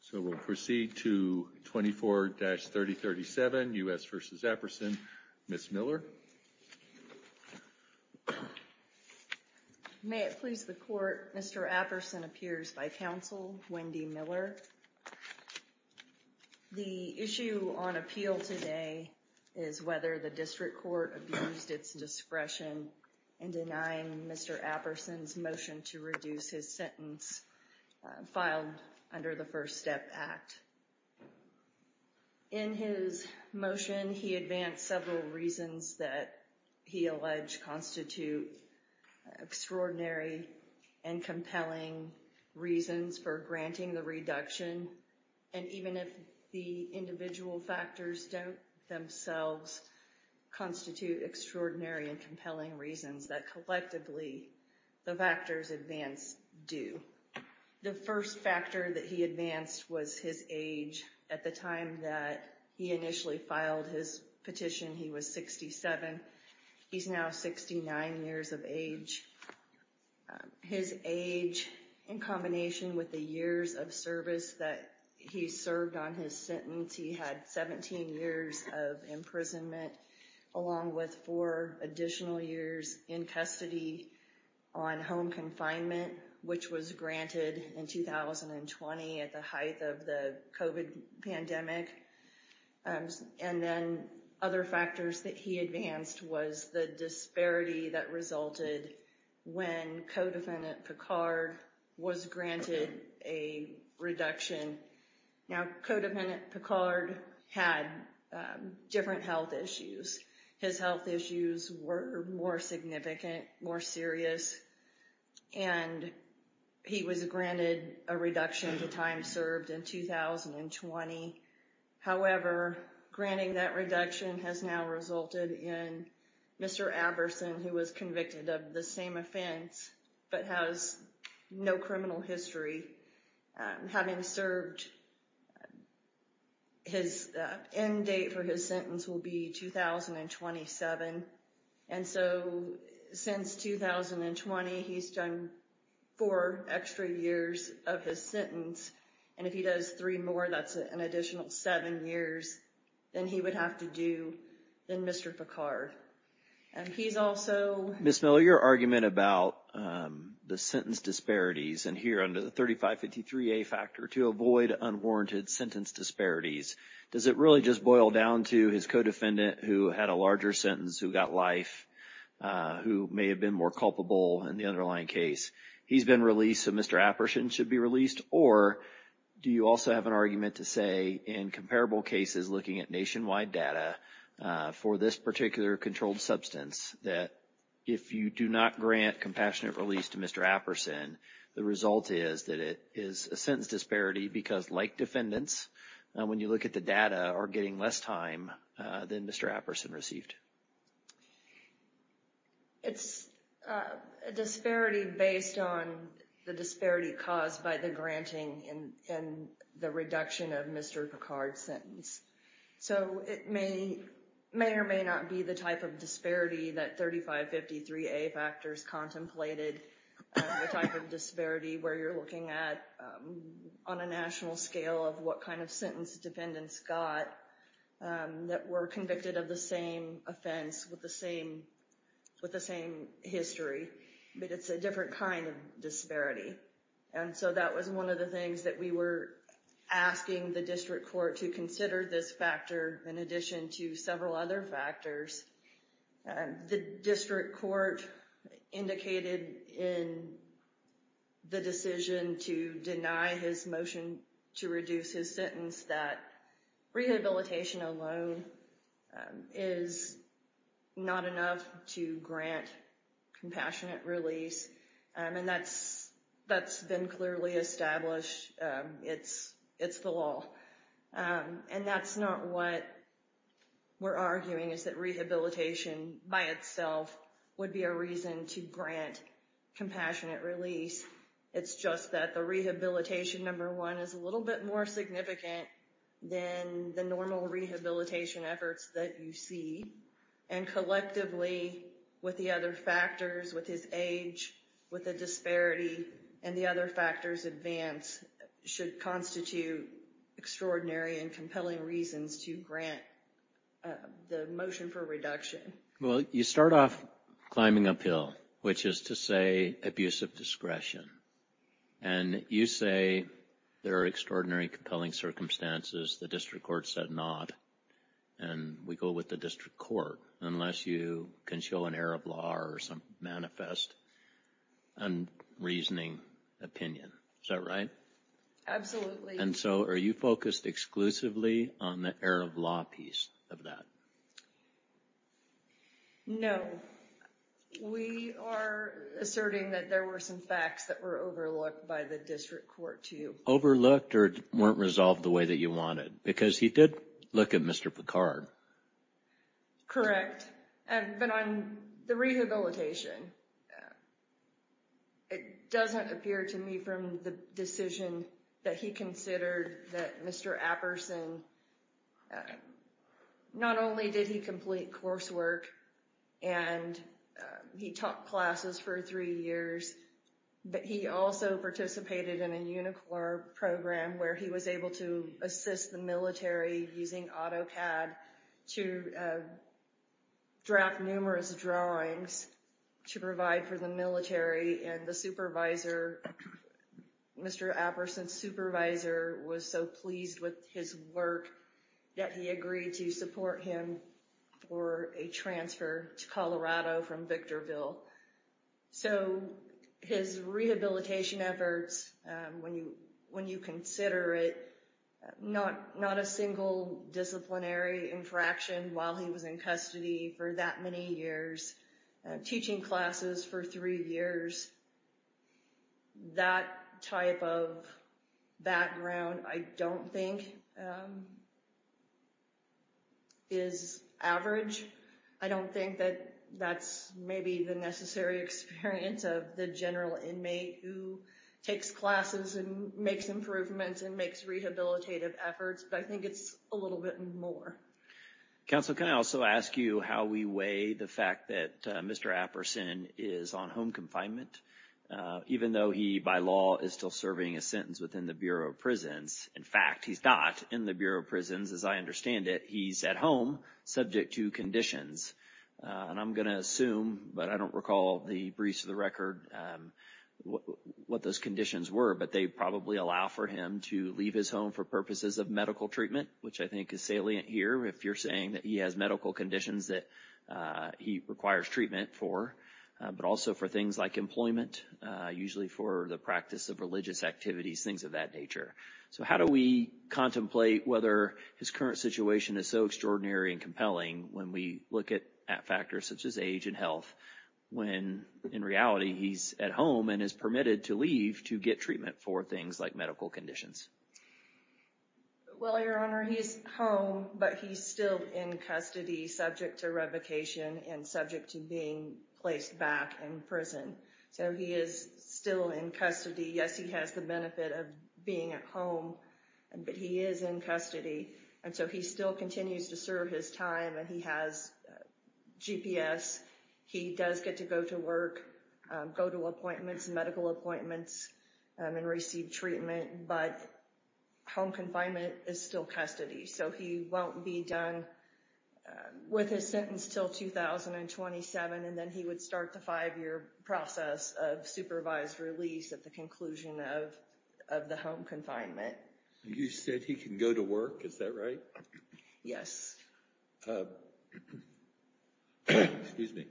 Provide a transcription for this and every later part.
So we'll proceed to 24-3037, U.S. v. Apperson. Ms. Miller. May it please the court, Mr. Apperson appears by counsel, Wendy Miller. The issue on appeal today is whether the district court abused its discretion in denying Mr. Apperson's motion to reduce his sentence filed under the First Step Act. In his motion, he advanced several reasons that he alleged constitute extraordinary and compelling reasons for granting the reduction. And even if the individual factors don't themselves constitute extraordinary and compelling reasons, that collectively the factors advanced do. The first factor that he advanced was his age. At the time that he initially filed his petition, he was 67. He's now 69 years of age. His age in combination with the years of service that he served on his sentence, he had 17 years of imprisonment along with four additional years in custody on home confinement, which was granted in 2020 at the height of the COVID pandemic. And then other factors that he advanced was the disparity that resulted when Codefendant Picard was granted a reduction. Now, Codefendant Picard had different health issues. His health issues were more significant, more serious, and he was granted a reduction to time served in 2020. However, granting that reduction has now resulted in Mr. Apperson, who was convicted of the same offense but has no criminal history. Having served, his end date for his sentence will be 2027. And so since 2020, he's done four extra years of his sentence. And if he does three more, that's an additional seven years, then he would have to do than Mr. Picard. And he's also... Ms. Miller, your argument about the sentence disparities, and here under the 3553A factor to avoid unwarranted sentence disparities, does it really just boil down to his codefendant who had a larger sentence, who got life, who may have been more culpable in the underlying case? He's been released, so Mr. Apperson should be released? Or do you also have an argument to say in comparable cases looking at nationwide data for this particular controlled substance, that if you do not grant compassionate release to Mr. Apperson, the result is that it is a sentence disparity because, like defendants, when you look at the data, are getting less time than Mr. Apperson received. It's a disparity based on the disparity caused by the granting and the reduction of Mr. Picard's sentence. So it may or may not be the type of disparity that 3553A factors contemplated, the type of disparity where you're looking at on a national scale of what kind of sentence defendants got that were convicted of the same offense with the same history, but it's a different kind of disparity. And so that was one of the things that we were asking the district court to consider this factor in addition to several other factors. The district court indicated in the decision to deny his motion to reduce his sentence that rehabilitation alone is not enough to grant compassionate release, and that's been clearly established. It's the law. And that's not what we're arguing, is that rehabilitation by itself would be a reason to grant compassionate release. It's just that the rehabilitation, number one, is a little bit more significant than the normal rehabilitation efforts that you see, and collectively with the other factors, with his age, with the disparity, and the other factors advance should constitute extraordinary and compelling reasons to grant the motion for reduction. Well, you start off climbing uphill, which is to say abuse of discretion, and you say there are extraordinary, compelling circumstances. The district court said not, and we go with the district court, unless you can show an error of law or some manifest unreasoning opinion. Is that right? Absolutely. And so are you focused exclusively on the error of law piece of that? No. We are asserting that there were some facts that were overlooked by the district court too. Overlooked or weren't resolved the way that you wanted? Because he did look at Mr. Picard. Correct, but on the rehabilitation, it doesn't appear to me from the decision that he considered that Mr. Apperson, not only did he complete coursework and he taught classes for three years, but he also participated in a UNICOR program where he was able to assist the military using AutoCAD to draft numerous drawings to provide for the military, and the supervisor, Mr. Apperson's supervisor was so pleased with his work that he agreed to support him for a transfer to Colorado from Victorville. So his rehabilitation efforts, when you consider it, not a single disciplinary infraction while he was in custody for that many years, teaching classes for three years, that type of background I don't think is average. I don't think that that's maybe the necessary experience of the general inmate who takes classes and makes improvements and makes rehabilitative efforts, but I think it's a little bit more. Counsel, can I also ask you how we weigh the fact that Mr. Apperson is on home confinement, even though he, by law, is still serving a sentence within the Bureau of Prisons? In fact, he's not in the Bureau of Prisons, as I understand it. He's at home subject to conditions, and I'm going to assume, but I don't recall the briefs of the record what those conditions were, but they probably allow for him to leave his home for purposes of medical treatment, which I think is salient here if you're saying that he has medical conditions that he requires treatment for, but also for things like employment, usually for the practice of religious activities, things of that nature. So how do we contemplate whether his current situation is so extraordinary and compelling when we look at factors such as age and health when, in reality, he's at home and is permitted to leave to get treatment for things like medical conditions? Well, Your Honor, he's home, but he's still in custody subject to revocation and subject to being placed back in prison, so he is still in custody. Yes, he has the benefit of being at home, but he is in custody, and so he still continues to serve his time, and he has GPS. He does get to go to work, go to appointments, medical appointments, and receive treatment, but home confinement is still custody, so he won't be done with his sentence until 2027, and then he would start the five-year process of supervised release at the conclusion of the home confinement. You said he can go to work. Is that right? Yes. Excuse me.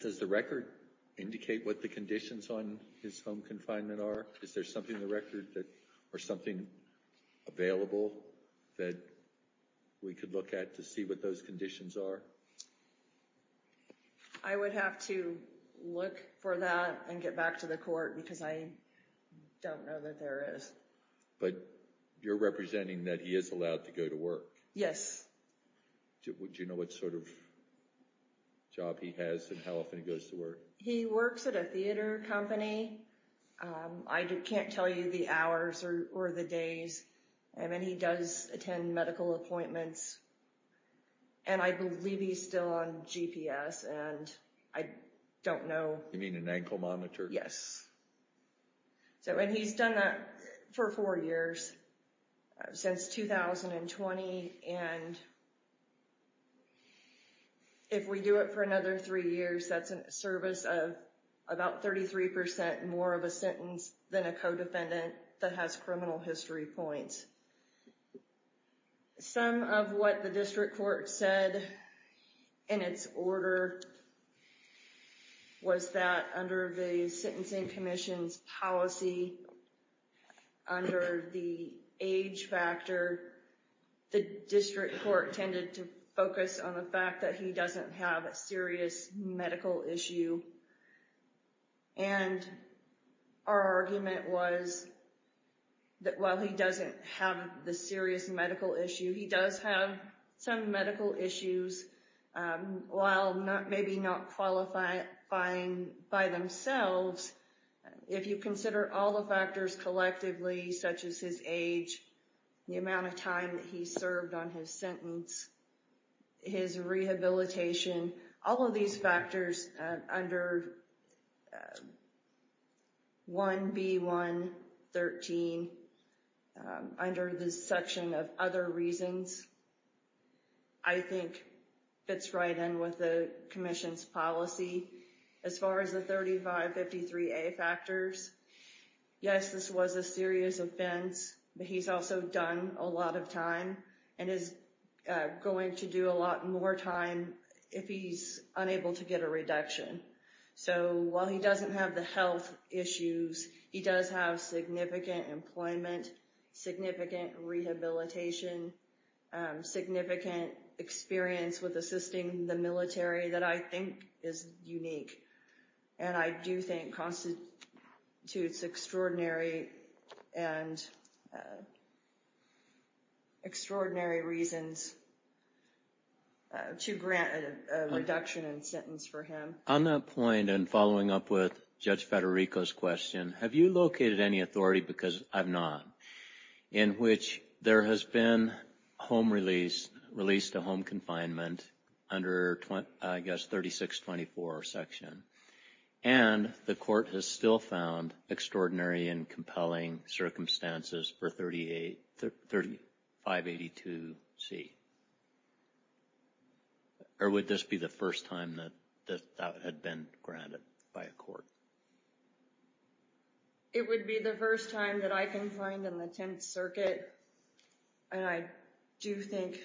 Does the record indicate what the conditions on his home confinement are? Is there something in the record or something available that we could look at to see what those conditions are? I would have to look for that and get back to the court because I don't know that there is. But you're representing that he is allowed to go to work? Yes. Do you know what sort of job he has and how often he goes to work? He works at a theater company. I can't tell you the hours or the days, and then he does attend medical appointments, and I believe he's still on GPS, and I don't know. You mean an ankle monitor? Yes, and he's done that for four years since 2020, and if we do it for another three years, that's a service of about 33% more of a sentence than a co-defendant that has criminal history points. Some of what the district court said in its order was that under the Sentencing Commission's policy, under the age factor, the district court tended to focus on the fact that he doesn't have a serious medical issue, and our argument was that while he doesn't have the serious medical issue, he does have some medical issues. While maybe not qualifying by themselves, if you consider all the factors collectively, such as his age, the amount of time that he served on his sentence, his rehabilitation, all of these factors under 1B.1.13, under the section of other reasons, I think fits right in with the commission's policy. As far as the 3553A factors, yes, this was a serious offense, but he's also done a lot of time and is going to do a lot more time if he's unable to get a reduction. So while he doesn't have the health issues, he does have significant employment, significant rehabilitation, significant experience with assisting the military that I think is unique, and I do think constitutes extraordinary reasons to grant a reduction in sentence for him. On that point, and following up with Judge Federico's question, have you located any authority, because I've not, in which there has been home release, release to home confinement under, I guess, 3624 section, and the court has still found extraordinary and compelling circumstances for 3582C? Or would this be the first time that that had been granted by a court? It would be the first time that I confined in the Tenth Circuit, and I do think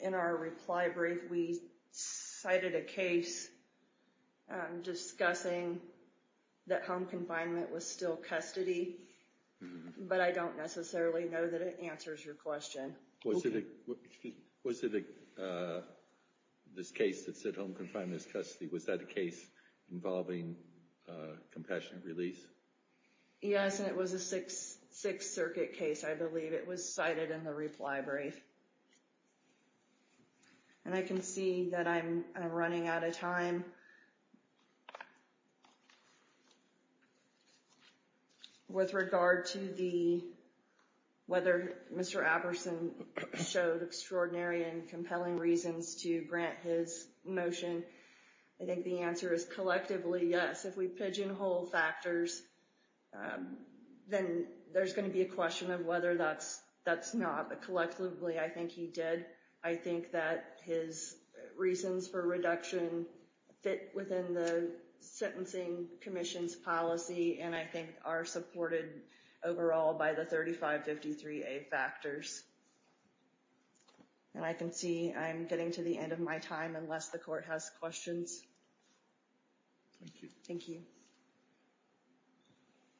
in our reply brief we cited a case discussing that home confinement was still custody, but I don't necessarily know that it answers your question. Was it this case that said home confinement is custody, was that a case involving compassionate release? Yes, and it was a Sixth Circuit case, I believe. It was cited in the reply brief. And I can see that I'm running out of time. With regard to whether Mr. Apperson showed extraordinary and compelling reasons to grant his motion, I think the answer is collectively yes. If we pigeonhole factors, then there's going to be a question of whether that's not. Collectively, I think he did. I think that his reasons for reduction fit within the Sentencing Commission's policy, and I think are supported overall by the 3553A factors. And I can see I'm getting to the end of my time, unless the court has questions. Thank you.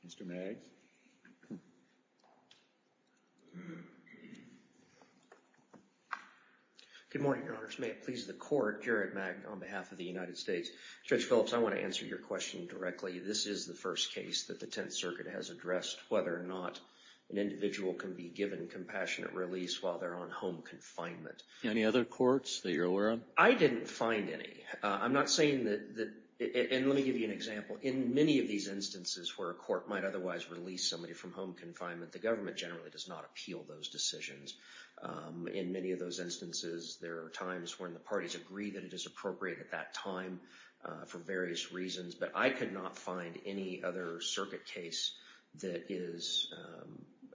Mr. Magg. Good morning, Your Honors. May it please the Court, Jared Magg on behalf of the United States. Judge Phillips, I want to answer your question directly. This is the first case that the Tenth Circuit has addressed, whether or not an individual can be given compassionate release while they're on home confinement. Any other courts that you're aware of? I didn't find any. I'm not saying that – and let me give you an example. In many of these instances where a court might otherwise release somebody from home confinement, the government generally does not appeal those decisions. In many of those instances, there are times when the parties agree that it is appropriate at that time for various reasons, but I could not find any other circuit case that is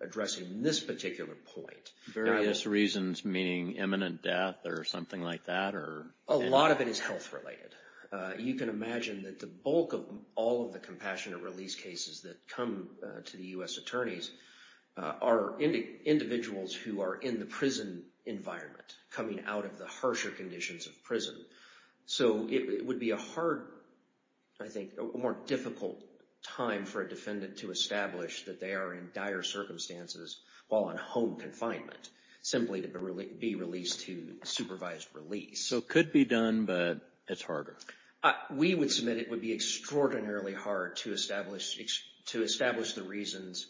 addressing this particular point. Various reasons meaning imminent death or something like that? A lot of it is health-related. You can imagine that the bulk of all of the compassionate release cases that come to the U.S. attorneys are individuals who are in the prison environment, coming out of the harsher conditions of prison. So it would be a hard, I think, a more difficult time for a defendant to establish that they are in dire circumstances while on home confinement, simply to be released to supervised release. So it could be done, but it's harder? We would submit it would be extraordinarily hard to establish the reasons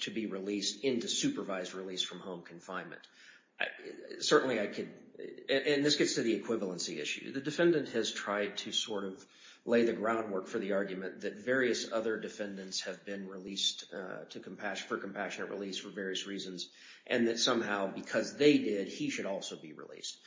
to be released into supervised release from home confinement. Certainly I could – and this gets to the equivalency issue. The defendant has tried to sort of lay the groundwork for the argument that various other defendants have been released for compassionate release for various reasons, and that somehow because they did, he should also be released.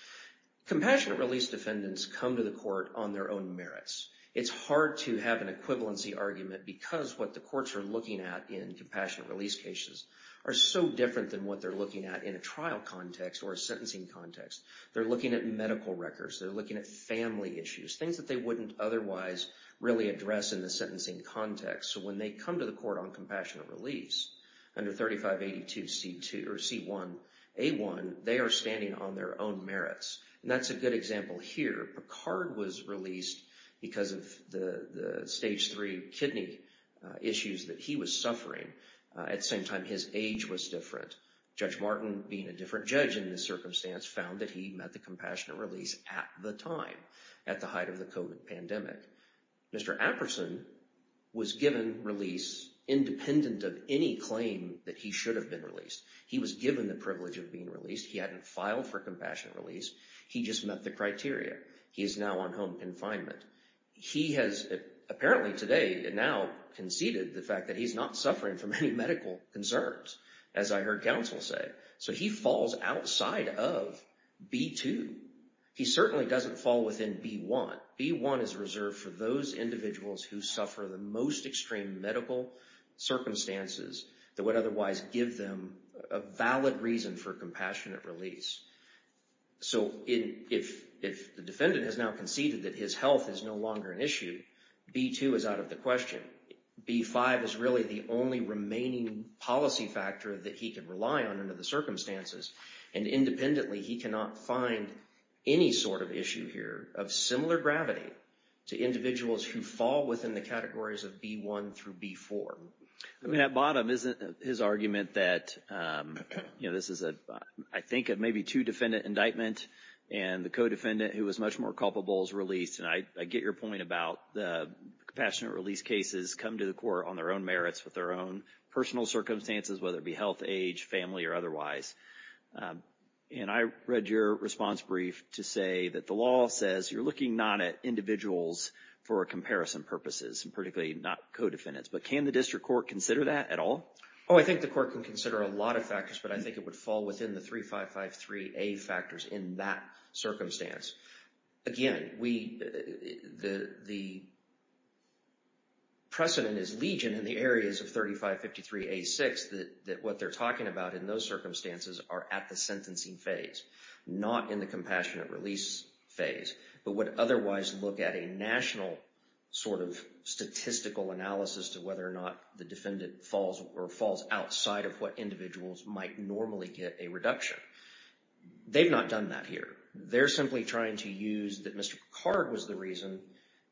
Compassionate release defendants come to the court on their own merits. It's hard to have an equivalency argument because what the courts are looking at in compassionate release cases are so different than what they're looking at in a trial context or a sentencing context. They're looking at medical records. They're looking at family issues, things that they wouldn't otherwise really address in the sentencing context. So when they come to the court on compassionate release under 3582C2 or C1A1, they are standing on their own merits, and that's a good example here. Picard was released because of the stage 3 kidney issues that he was suffering. At the same time, his age was different. Judge Martin, being a different judge in this circumstance, found that he met the compassionate release at the time at the height of the COVID pandemic. Mr. Apperson was given release independent of any claim that he should have been released. He was given the privilege of being released. He hadn't filed for compassionate release. He just met the criteria. He is now on home confinement. He has apparently today now conceded the fact that he's not suffering from any medical concerns, as I heard counsel say. So he falls outside of B2. He certainly doesn't fall within B1. But B1 is reserved for those individuals who suffer the most extreme medical circumstances that would otherwise give them a valid reason for compassionate release. So if the defendant has now conceded that his health is no longer an issue, B2 is out of the question. B5 is really the only remaining policy factor that he can rely on under the circumstances, and independently he cannot find any sort of issue here of similar gravity to individuals who fall within the categories of B1 through B4. I mean, at bottom, isn't his argument that, you know, this is a, I think, maybe two-defendant indictment and the co-defendant who was much more culpable is released. And I get your point about the compassionate release cases come to the court on their own merits, with their own personal circumstances, whether it be health, age, family, or otherwise. And I read your response brief to say that the law says you're looking not at individuals for comparison purposes, and particularly not co-defendants. But can the district court consider that at all? Oh, I think the court can consider a lot of factors, but I think it would fall within the 3553A factors in that circumstance. Again, the precedent is legion in the areas of 3553A6 that what they're talking about in those circumstances are at the sentencing phase, not in the compassionate release phase, but would otherwise look at a national sort of statistical analysis to whether or not the defendant falls or falls outside of what individuals might normally get a reduction. They've not done that here. They're simply trying to use that Mr. Picard was the reason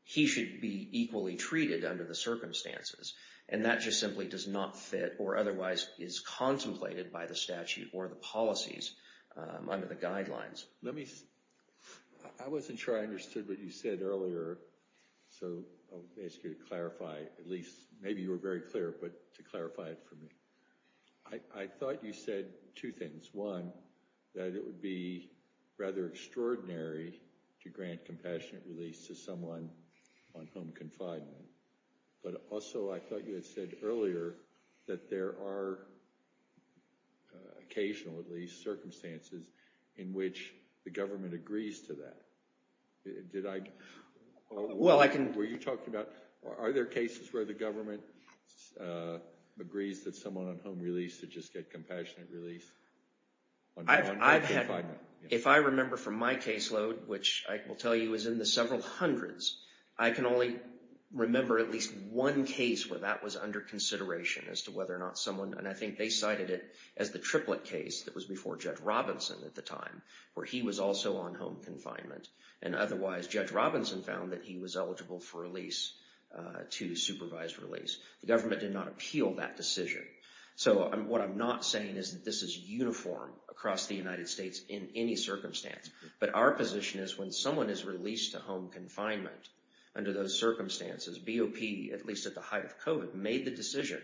he should be equally treated under the circumstances. And that just simply does not fit or otherwise is contemplated by the statute or the policies under the guidelines. Let me – I wasn't sure I understood what you said earlier, so I'll ask you to clarify, at least maybe you were very clear, but to clarify it for me. I thought you said two things. One, that it would be rather extraordinary to grant compassionate release to someone on home confinement. But also I thought you had said earlier that there are occasional, at least, circumstances in which the government agrees to that. Did I – were you talking about – are there cases where the government agrees that someone on home release should just get compassionate release on home confinement? If I remember from my caseload, which I will tell you is in the several hundreds, I can only remember at least one case where that was under consideration as to whether or not someone – and I think they cited it as the triplet case that was before Judd Robinson at the time, where he was also on home confinement. And otherwise, Judge Robinson found that he was eligible for release, to supervised release. The government did not appeal that decision. So what I'm not saying is that this is uniform across the United States in any circumstance. But our position is when someone is released to home confinement, under those circumstances, BOP, at least at the height of COVID, made the decision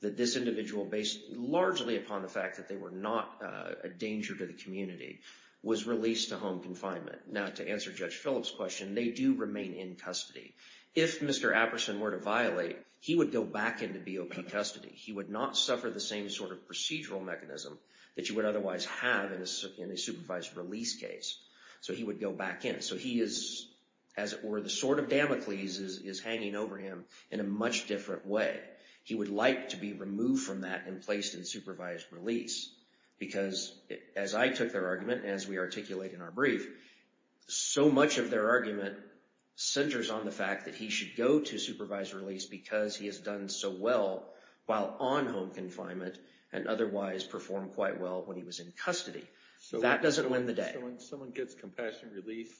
that this individual, based largely upon the fact that they were not a danger to the community, was released to home confinement. Now, to answer Judge Phillips' question, they do remain in custody. If Mr. Apperson were to violate, he would go back into BOP custody. He would not suffer the same sort of procedural mechanism that you would otherwise have in a supervised release case. So he would go back in. So he is, as it were, the sword of Damocles is hanging over him in a much different way. He would like to be removed from that and placed in supervised release. Because, as I took their argument, as we articulate in our brief, so much of their argument centers on the fact that he should go to supervised release because he has done so well while on home confinement and otherwise performed quite well when he was in custody. That doesn't win the day. So when someone gets compassionate release,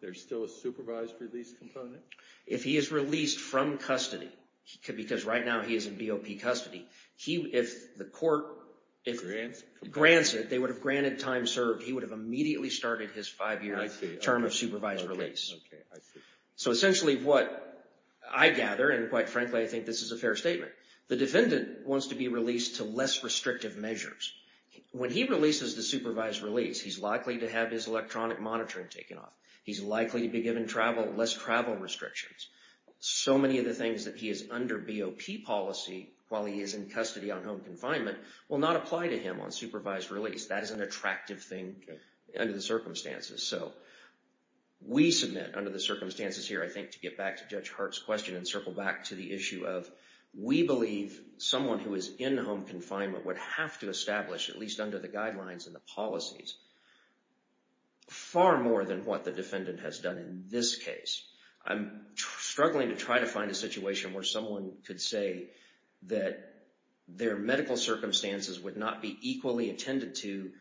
there's still a supervised release component? If he is released from custody, because right now he is in BOP custody, if the court grants it, they would have granted time served, he would have immediately started his five-year term of supervised release. So essentially what I gather, and quite frankly I think this is a fair statement, the defendant wants to be released to less restrictive measures. When he releases to supervised release, he's likely to have his electronic monitoring taken off. He's likely to be given less travel restrictions. So many of the things that he is under BOP policy while he is in custody on home confinement will not apply to him on supervised release. That is an attractive thing under the circumstances. So we submit under the circumstances here, I think, to get back to Judge Hart's question and circle back to the issue of we believe someone who is in home confinement would have to establish, at least under the guidelines and the policies, far more than what the defendant has done in this case. I'm struggling to try to find a situation where someone could say that their medical circumstances would not be equally attended to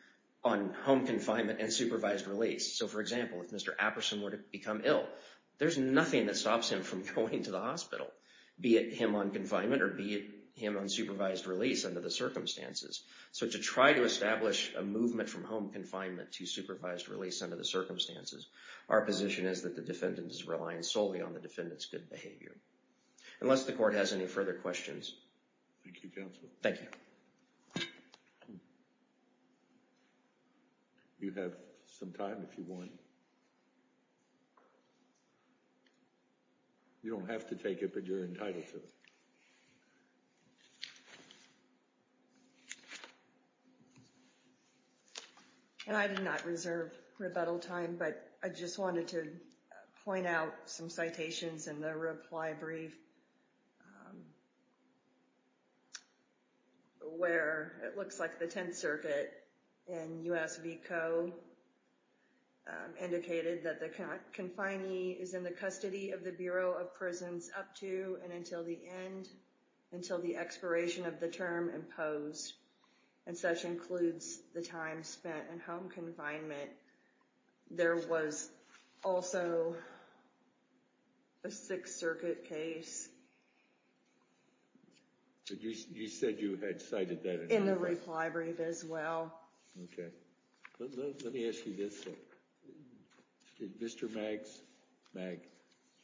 on home confinement and supervised release. So for example, if Mr. Apperson were to become ill, there's nothing that stops him from going to the hospital, be it him on confinement or be it him on supervised release under the circumstances. So to try to establish a movement from home confinement to supervised release under the circumstances, our position is that the defendant is relying solely on the defendant's good behavior. Unless the court has any further questions. Thank you, counsel. Thank you. You have some time if you want. You don't have to take it, but you're entitled to it. And I did not reserve rebuttal time, but I just wanted to point out some citations in the reply brief, where it looks like the Tenth Circuit and USVCO indicated that the confinee is in the custody of the Bureau of Prisons up to and until the end, and such includes the time spent in home confinement. There was also a Sixth Circuit case. You said you had cited that in the reply brief. In the reply brief as well. Okay. Let me ask you this. Did Mr. Magg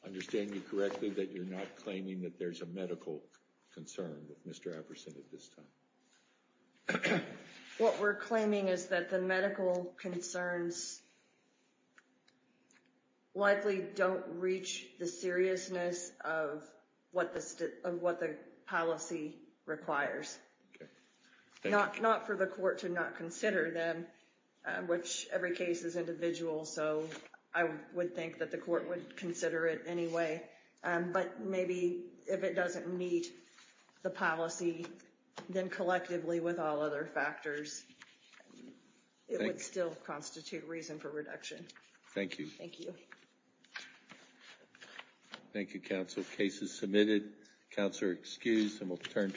understand you correctly that you're not claiming that there's a medical concern with Mr. Epperson at this time? What we're claiming is that the medical concerns likely don't reach the seriousness of what the policy requires. Not for the court to not consider them, which every case is individual, so I would think that the court would consider it anyway. But maybe if it doesn't meet the policy, then collectively with all other factors, it would still constitute reason for reduction. Thank you. Thank you. Thank you, counsel. Case is submitted. Counselor excused, and we'll turn.